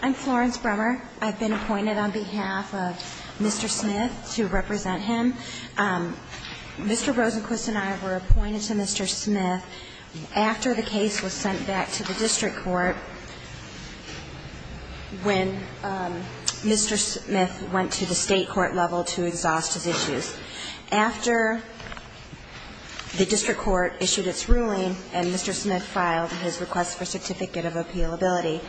I'm Florence Brummer. I've been appointed on behalf of Mr. Smith to represent him. Mr. Rosenquist and I were appointed to Mr. Smith after the case was sent back to the district court when Mr. Smith went to the state court level to exhaust his issues. After the district court issued its ruling and Mr. Smith filed his request for Certificate of Appealability,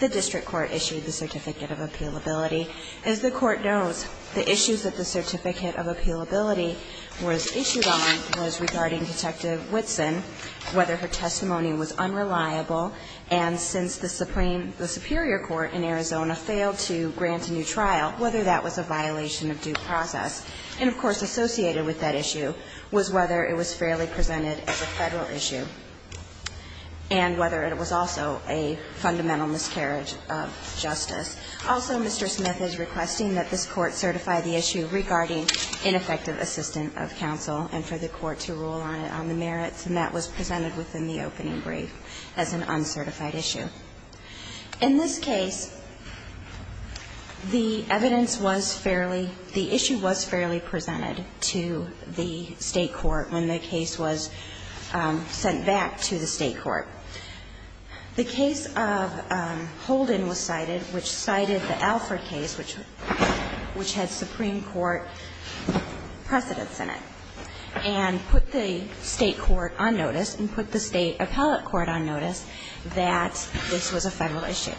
the district court issued the Certificate of Appealability. As the court knows, the issues that the Certificate of Appealability was issued on was regarding Detective Whitson, whether her testimony was unreliable, and since the Supreme, the Superior Court in Arizona failed to grant a new trial, whether that was a violation of due process. And, of course, associated with that issue was whether it was fairly presented as a Federal issue and whether it was also a fundamental miscarriage of justice. Also, Mr. Smith is requesting that this Court certify the issue regarding ineffective assistant of counsel and for the Court to rule on it on the merits, and that was presented within the opening brief as an uncertified issue. In this case, the evidence was fairly the issue was fairly presented to the state court when the case was sent back to the state court. The case of Holden was cited, which cited the Alford case, which had Supreme Court precedents in it, and put the state court on notice and put the state appellate court on notice that this was a Federal issue.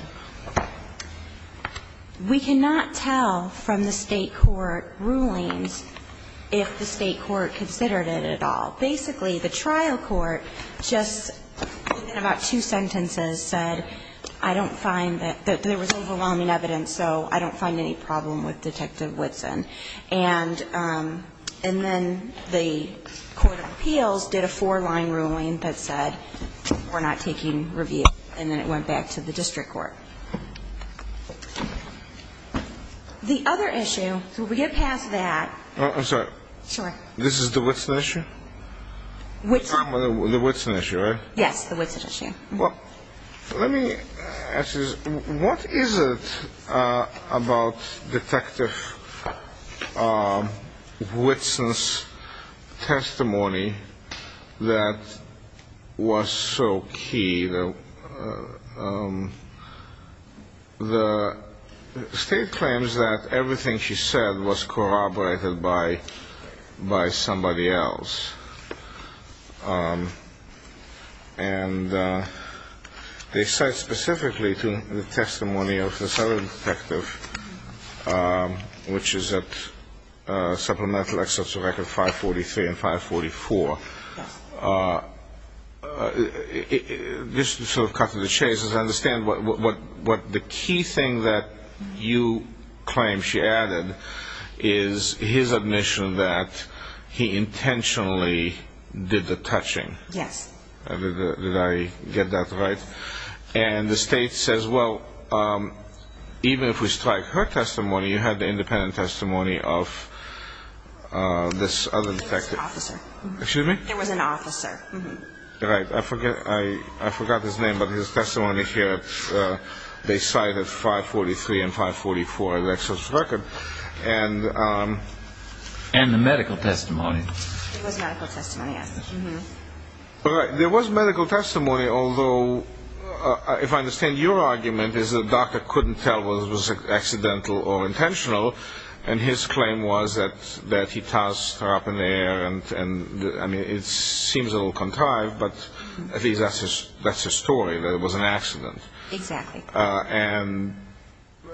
We cannot tell from the state court rulings if the state court considered it at all. Basically, the trial court just in about two sentences said, I don't find that there was overwhelming evidence, so I don't find any problem with Detective Whitson. And then the court of appeals did a four-line ruling that said, we're not taking review, and then it was sent back to the district court. The other issue, so we get past that. I'm sorry. This is the Whitson issue? The Whitson issue, right? Yes, the Whitson issue. Well, let me ask you, what is it about Detective Whitson's testimony that was so key that the state claims that everything she said was corroborated by somebody else? And they cite specifically to the testimony of this other detective, which is at supplemental excerpts of record 543 and 544. Just to cut to the chase, I understand the key thing that you claim she added is his admission that he intentionally did the touching. Yes. Did I get that right? And the state says, well, even if we strike her testimony, you had the independent testimony of this other detective. There was an officer. I forgot his name, but his testimony here, they cited 543 and 544 as excerpts of record. And the medical testimony. There was medical testimony, although, if I understand your argument, is that the doctor couldn't tell whether it was accidental or intentional, and his claim was that he tossed her up in the air, and that's all. And, I mean, it seems a little contrived, but at least that's his story, that it was an accident. Exactly. And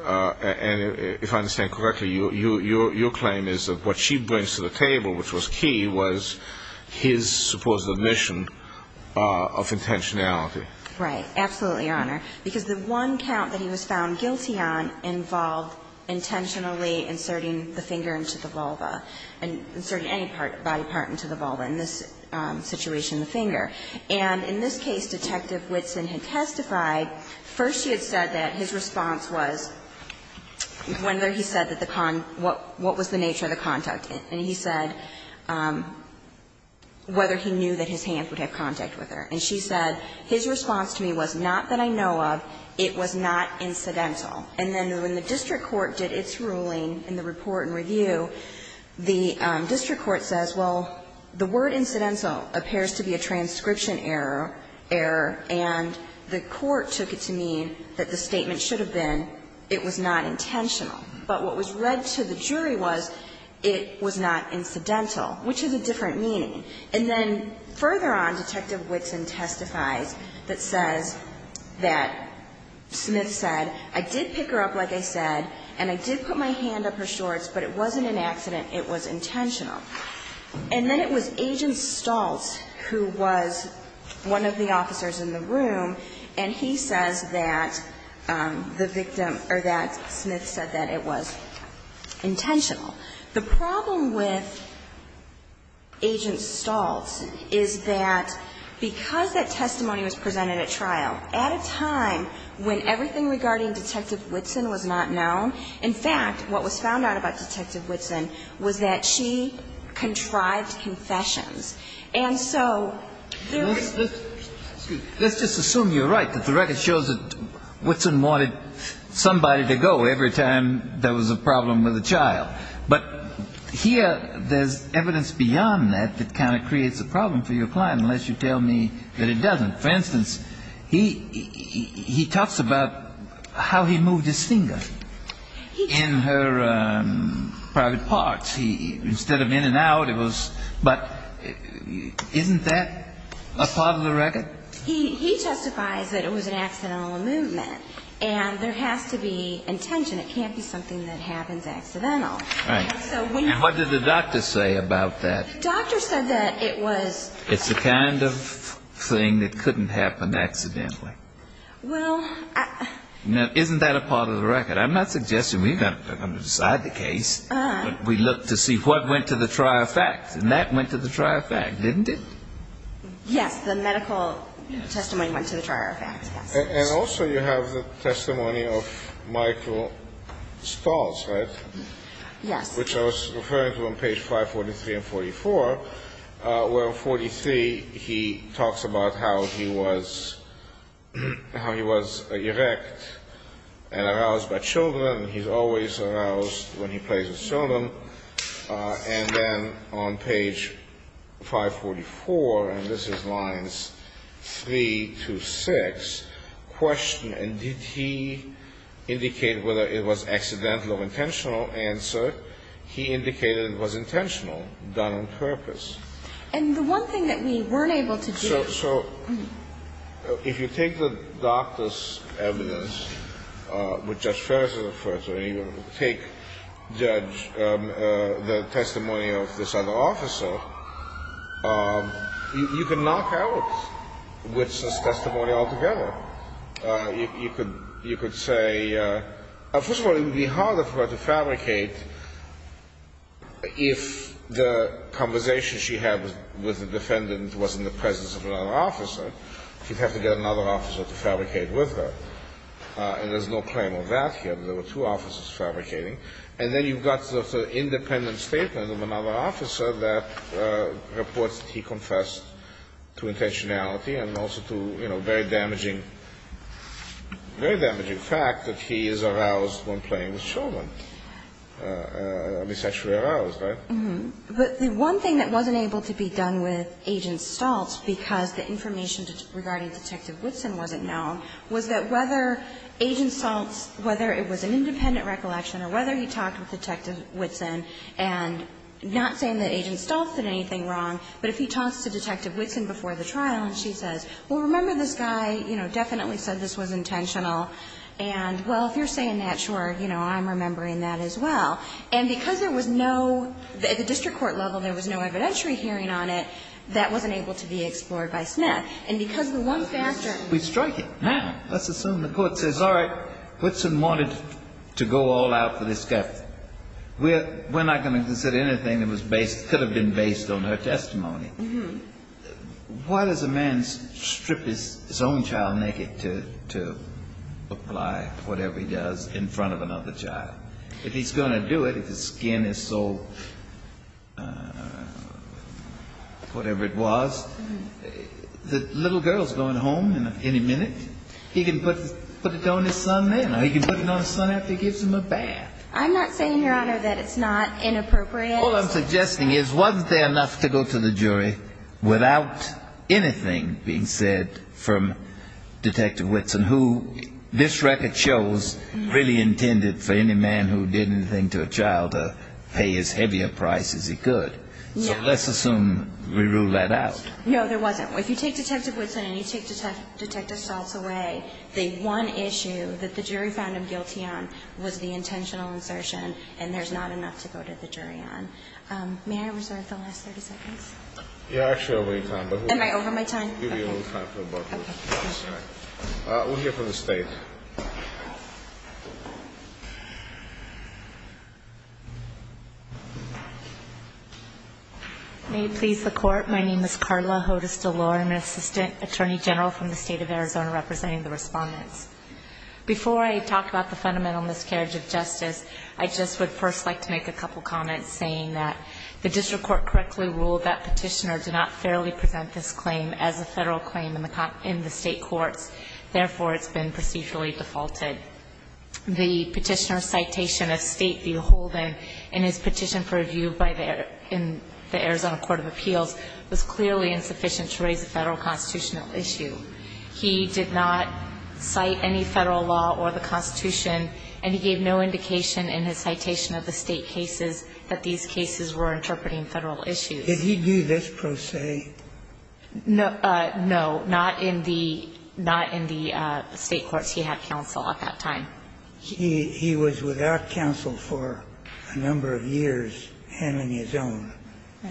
if I understand correctly, your claim is that what she brings to the table, which was key, was his supposed admission of intentionality. Right. Absolutely, Your Honor. Because the one count that he was found guilty on involved intentionally inserting the finger into the vulva, inserting any body part into the vulva, in this situation, the finger. And in this case, Detective Whitson had testified, first she had said that his response was, whether he said what was the nature of the contact, and he said whether he knew that his hands would have contact with her. And she said, his response to me was, not that I know of, it was not incidental. And then when the district court did its ruling in the report and review, the district court says, well, the word incidental appears to be a transcription error, and the court took it to mean that the statement should have been, it was not intentional. But what was read to the jury was, it was not incidental, which is a different meaning. And then further on, Detective Whitson testifies that says that Smith said, I did pick her up, like I said, and I did put my hand up her shorts, but it wasn't an accident, it was intentional. And then it was Agent Staltz who was one of the officers in the room, and he says that the victim, or that Smith said that it was intentional. The problem with Agent Staltz is that because that testimony was presented at trial, at a time when everything regarding Detective Whitson was not known, in fact, what was found out about Detective Whitson was that she contrived confessions. And so there was no question. But here, there's evidence beyond that that kind of creates a problem for your client, unless you tell me that it doesn't. For instance, he talks about how he moved his finger in her private parts. Instead of in and out, it was, but isn't that a part of the record? He justifies that it was an accidental movement, and there has to be intention. It can't be something that happens accidentally. And what did the doctor say about that? The doctor said that it was the kind of thing that couldn't happen accidentally. Now, isn't that a part of the record? I'm not suggesting we've got to decide the case, but we look to see what went to the trial facts, and that went to the trial facts, didn't it? Yes, the medical testimony went to the trial facts, yes. And also you have the testimony of Michael Stahls, right? Yes. Which I was referring to on page 543 and 544, where in 543 he talks about how he was erect and aroused by children. He's always aroused when he plays with children. And then on page 544, and this is lines 3 to 6, question, and did he indicate whether it was accidental or intentional answer? He indicated it was intentional, done on purpose. And the one thing that we weren't able to do. So if you take the doctor's evidence, which Judge Ferris is referring to, and you take the testimony of this other officer, you can knock out with this testimony altogether. You could say, first of all, it would be harder for her to fabricate if the conversation she had with the defendant was in the presence of the doctor. If she was in the presence of another officer, she'd have to get another officer to fabricate with her. And there's no claim of that here. There were two officers fabricating. And then you've got the independent statement of another officer that reports that he confessed to intentionality and also to, you know, very damaging fact that he is aroused when playing with children. He's actually aroused, right? But the one thing that wasn't able to be done with Agent Stoltz, because the information regarding Detective Woodson wasn't known, was that whether Agent Stoltz, whether it was an independent recollection or whether he talked with Detective Woodson, and not saying that Agent Stoltz did anything wrong, but if he talks to Detective Woodson before the trial and she says, well, remember this guy, you know, definitely said this was intentional, and well, if you're saying that, sure, you know, I'm remembering that as well. And because there was no, at the district court level, there was no evidentiary hearing on it, that wasn't able to be explored by Smith. And because the one factor we strike it now, let's assume the court says, all right, Woodson wanted to go all out for this guy. We're not going to consider anything that could have been based on her testimony. Why does a man strip his own child naked to apply whatever he does in front of another child? If he's going to do it, if his skin is so, whatever it was, the little girl's going home any minute, he can put it on his son then, or he can put it on his son after he gives him a bath. I'm not saying, Your Honor, that it's not inappropriate. All I'm suggesting is, wasn't there enough to go to the jury without anything being said from Detective Woodson, who this record shows really intended for any man, who did anything to a child, to pay as heavy a price as he could? So let's assume we rule that out. No, there wasn't. If you take Detective Woodson and you take Detective Schultz away, the one issue that the jury found him guilty on was the intentional insertion, and there's not enough to go to the jury on. May I reserve the last 30 seconds? Yeah, actually, I'll give you time. We'll hear from the State. May it please the Court, my name is Karla Hodes DeLore, I'm an Assistant Attorney General from the State of Arizona representing the Respondents. Before I talk about the fundamental miscarriage of justice, I just would first like to make a couple comments, saying that the District Court correctly ruled that Petitioner did not fairly present this claim as a Federal claim in the State courts, therefore it's been procedurally defaulted. The Petitioner's citation of State v. Holden in his petition for review in the Arizona Court of Appeals was clearly insufficient to raise a Federal constitutional issue. He did not cite any Federal law or the Constitution, and he gave no indication in his citation of the State cases that these cases were interpreting Federal issues. Did he do this pro se? No, not in the State courts. He had counsel at that time. He was without counsel for a number of years, him and his own.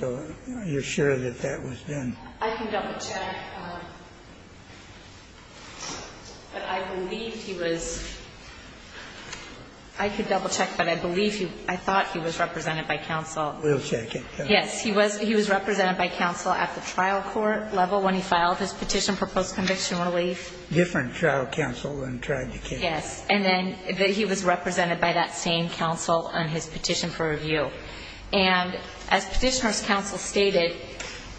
So you're sure that that was done? I can double check, but I believe he was... I can double check, but I believe he, I thought he was represented by counsel. We'll check it. Yes, he was represented by counsel at the trial court level when he filed his petition for post-conviction relief. Different trial counsel than tried to counsel. Yes, and then he was represented by that same counsel on his petition for review. And as Petitioner's counsel stated,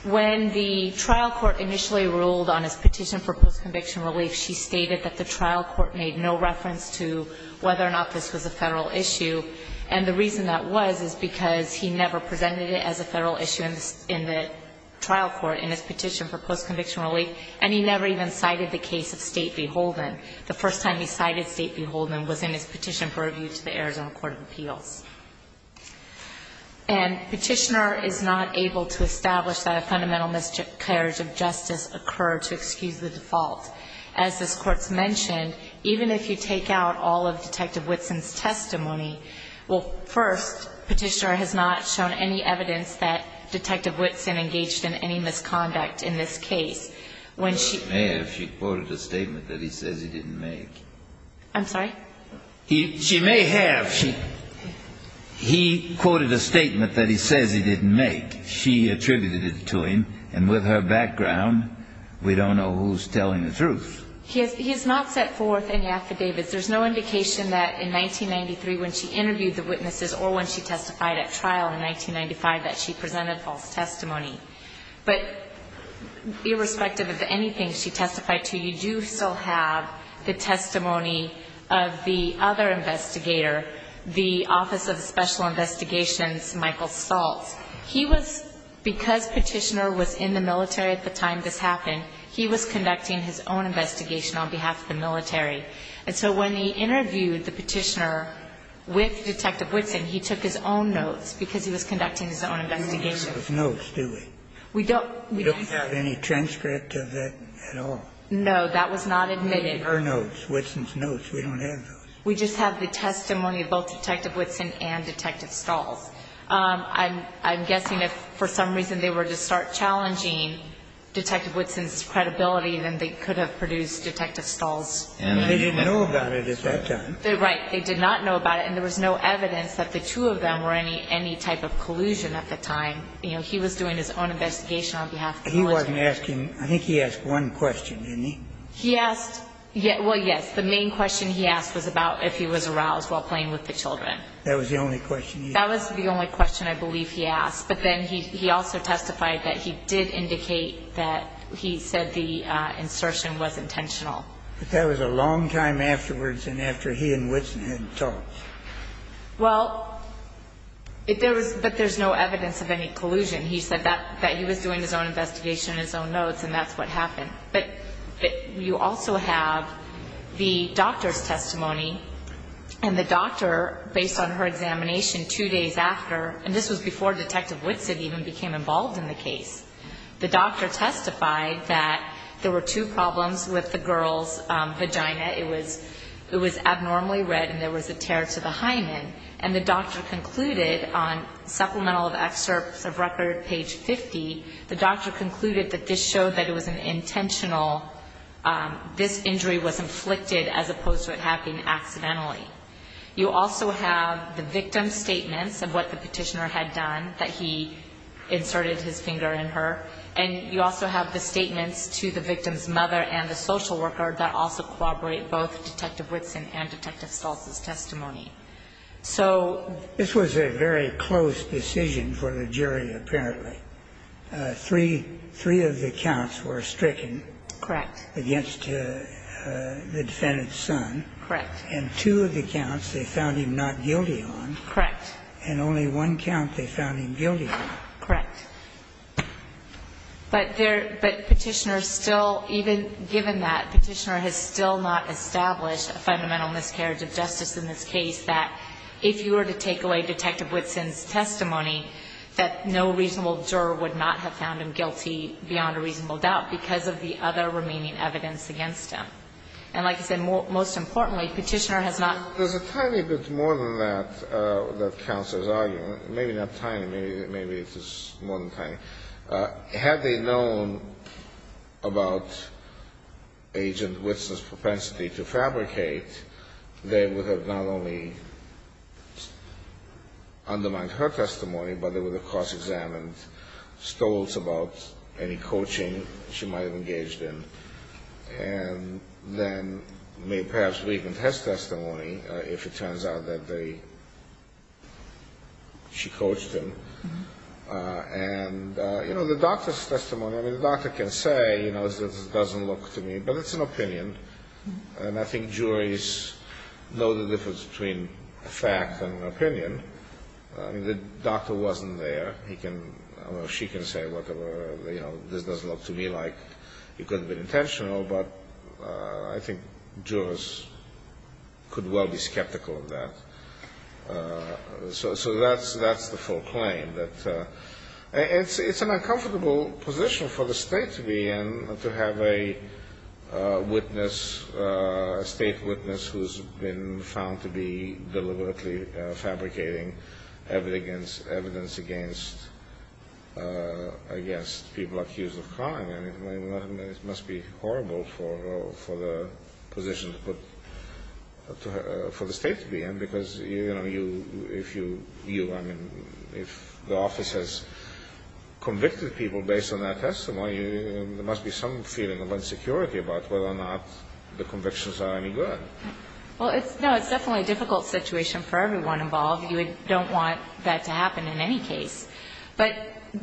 when the trial court initially ruled on his petition for post-conviction relief, she stated that the trial court made no reference to whether or not this was a Federal issue, and the reason that was is because he never presented it as a Federal issue in the trial court in his petition for post-conviction relief, and he never even cited the case of State v. Holden. The first time he cited State v. Holden was in his petition for review to the Arizona Court of Appeals. And Petitioner is not able to establish that a fundamental miscarriage of justice occurred to excuse the default. As this Court's mentioned, even if you take out all of Detective Whitson's testimony, well, first, Petitioner has not shown any evidence that Detective Whitson engaged in any misconduct in this case. When she... He didn't make. I'm sorry? She may have. He quoted a statement that he says he didn't make. She attributed it to him, and with her background, we don't know who's telling the truth. He has not set forth any affidavits. There's no indication that in 1993, when she interviewed the witnesses or when she testified at trial in 1995, that she presented false testimony. But irrespective of anything she testified to, you do still have evidence that she did not make. The testimony of the other investigator, the Office of Special Investigations Michael Staltz, he was, because Petitioner was in the military at the time this happened, he was conducting his own investigation on behalf of the military. And so when he interviewed the Petitioner with Detective Whitson, he took his own notes, because he was conducting his own investigation. We don't have any transcript of that at all. No, that was not admitted. Her notes, Whitson's notes. We don't have those. We just have the testimony of both Detective Whitson and Detective Staltz. I'm guessing if for some reason they were to start challenging Detective Whitson's credibility, then they could have produced Detective Staltz's testimony. They didn't know about it at that time. Right. They did not know about it, and there was no evidence that the two of them were any type of collusion at the time. You know, he was doing his own investigation on behalf of the military. He wasn't asking them. I think he asked one question, didn't he? He asked – well, yes. The main question he asked was about if he was aroused while playing with the children. That was the only question he asked? That was the only question I believe he asked. But then he also testified that he did indicate that he said the insertion was intentional. But that was a long time afterwards and after he and Whitson had talked. Well, there was – but there's no evidence of any collusion. He said that he was doing his own investigation on his own notes, and that's what happened. But you also have the doctor's testimony, and the doctor, based on her examination two days after – and this was before Detective Whitson even became involved in the case – the doctor testified that there were two problems with the girl's vagina. It was abnormally red and there was a tear to the hymen. And the doctor concluded on Supplemental Excerpts of Record, page 50, the doctor This injury was inflicted as opposed to it happening accidentally. You also have the victim's statements of what the petitioner had done, that he inserted his finger in her. And you also have the statements to the victim's mother and the social worker that also corroborate both Detective Whitson and Detective Stoltz's testimony. So – This was a very close decision for the jury, apparently. Three of the counts were stricken against the defendant's son. Correct. And two of the counts they found him not guilty on. Correct. And only one count they found him guilty on. Correct. But there – but Petitioner still, even given that, Petitioner has still not established a fundamental miscarriage of justice in this case that if you were to take away Detective Stoltz's testimony, the reasonable juror would not have found him guilty beyond a reasonable doubt because of the other remaining evidence against him. And like I said, most importantly, Petitioner has not – There's a tiny bit more than that, that counsel is arguing. Maybe not tiny. Maybe it is more than tiny. Had they known about Agent Whitson's propensity to fabricate, they would have not only argued against Stoltz about any coaching she might have engaged in and then made perhaps weak in test testimony if it turns out that they – she coached him. And, you know, the doctor's testimony – I mean, the doctor can say, you know, this doesn't look to me – but it's an opinion. And I think juries know the difference between a fact and an opinion. I mean, the doctor wasn't there. He can – or she can say whatever, you know, this doesn't look to me like it could have been intentional. But I think jurors could well be skeptical of that. So that's the full claim. It's an uncomfortable position for the State to be in, to have a witness, a State witness who's been found to be deliberately fabricating evidence against people accused of crime. I mean, it must be horrible for the position to put – for the State to be in because, you know, you – if you – you, I mean, if the office has convicted people based on their testimony, there must be some feeling of insecurity about whether or not the convictions are any good. Well, it's – no, it's definitely a difficult situation for everyone involved. You don't want that to happen in any case. But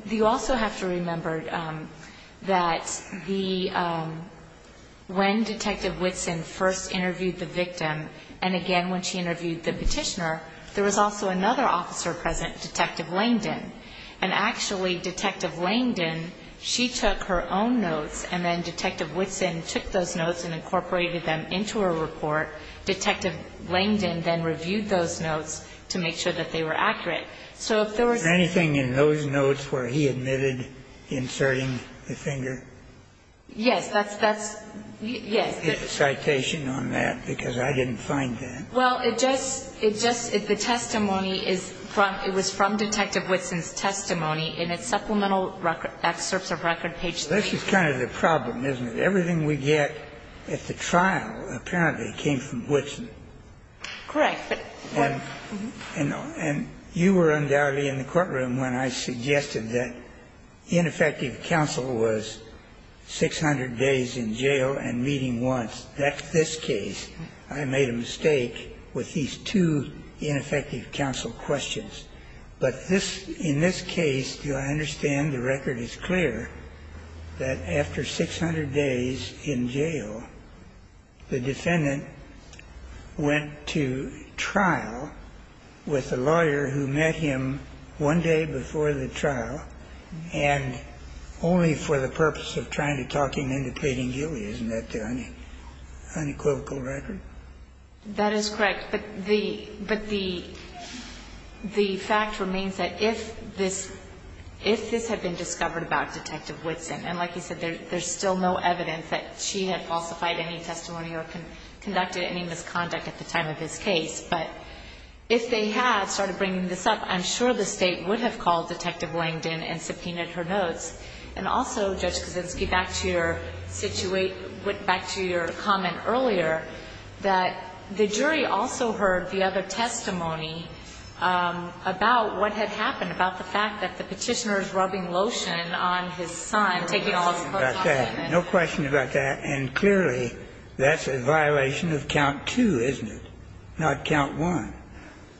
you also have to remember that the – when Detective Whitson first interviewed the victim and again when she interviewed the petitioner, there was also another officer present, Detective Langdon. And actually, Detective Langdon, she took her own notes and then Detective Whitson took those notes and incorporated them into her report. Detective Langdon then reviewed those notes to make sure that they were accurate. So if there was – Is there anything in those notes where he admitted inserting the finger? Yes. That's – that's – yes. Get a citation on that because I didn't find that. Well, it just – it just – the testimony is from – it was from Detective Whitson's testimony in its supplemental record – excerpts of record page 3. This is kind of the problem, isn't it? That everything we get at the trial apparently came from Whitson. Correct. And you were undoubtedly in the courtroom when I suggested that ineffective counsel was 600 days in jail and meeting once. That's this case. I made a mistake with these two ineffective counsel questions. But this – in this case, do I understand the record is clear that after 600 days in jail, the defendant went to trial with a lawyer who met him one day before the trial and only for the purpose of trying to talk him into pleading guilty. Isn't that the unequivocal record? That is correct. But the – but the – the fact remains that if this – if this had been discovered about Detective Whitson, and like you said, there's still no evidence that she had falsified any testimony or conducted any misconduct at the time of this case, but if they had started bringing this up, I'm sure the State would have called Detective Langdon and subpoenaed her notes. And also, Judge Kaczynski, back to your – went back to your comment earlier that the jury also heard the other testimony about what had happened, about the fact that the Petitioner is rubbing lotion on his son, taking all his clothes off him. No question about that. And clearly, that's a violation of count two, isn't it, not count one?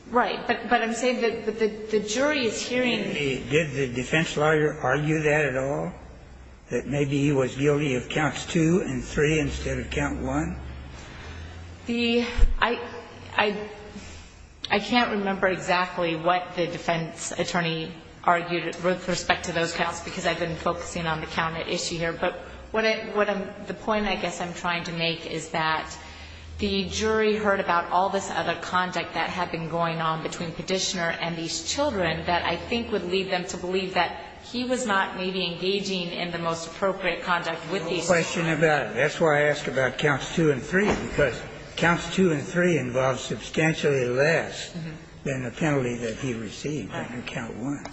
Right. But I'm saying that the jury is hearing – Did the defense lawyer argue that at all, that maybe he was guilty of counts two and three instead of count one? The – I – I – I can't remember exactly what the defense attorney argued with respect to those counts because I've been focusing on the count issue here, but what I – what I'm – the point I guess I'm trying to make is that the jury heard about all this other conduct that had been going on between Petitioner and these children that I think would lead them to believe that he was not maybe engaging in the most appropriate conduct with these children. No question about it. That's why I ask about counts two and three, because counts two and three involve substantially less than the penalty that he received under count one.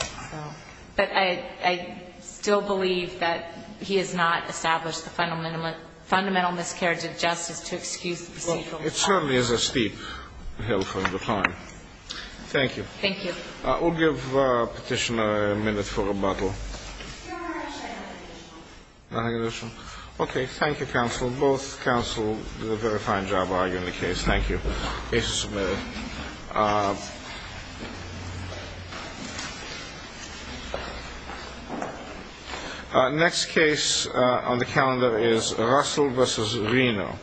But I – I still believe that he has not established the fundamental – fundamental miscarriage of justice to excuse the procedural fault. It certainly is a steep hill from the time. Thank you. Thank you. I will give Petitioner a minute for rebuttal. Your Honor, I wish I had a rebuttal. A rebuttal. Okay. Thank you, counsel. Both counsel did a very fine job arguing the case. Thank you. Case is submitted. Next case on the calendar is Russell v. Reno.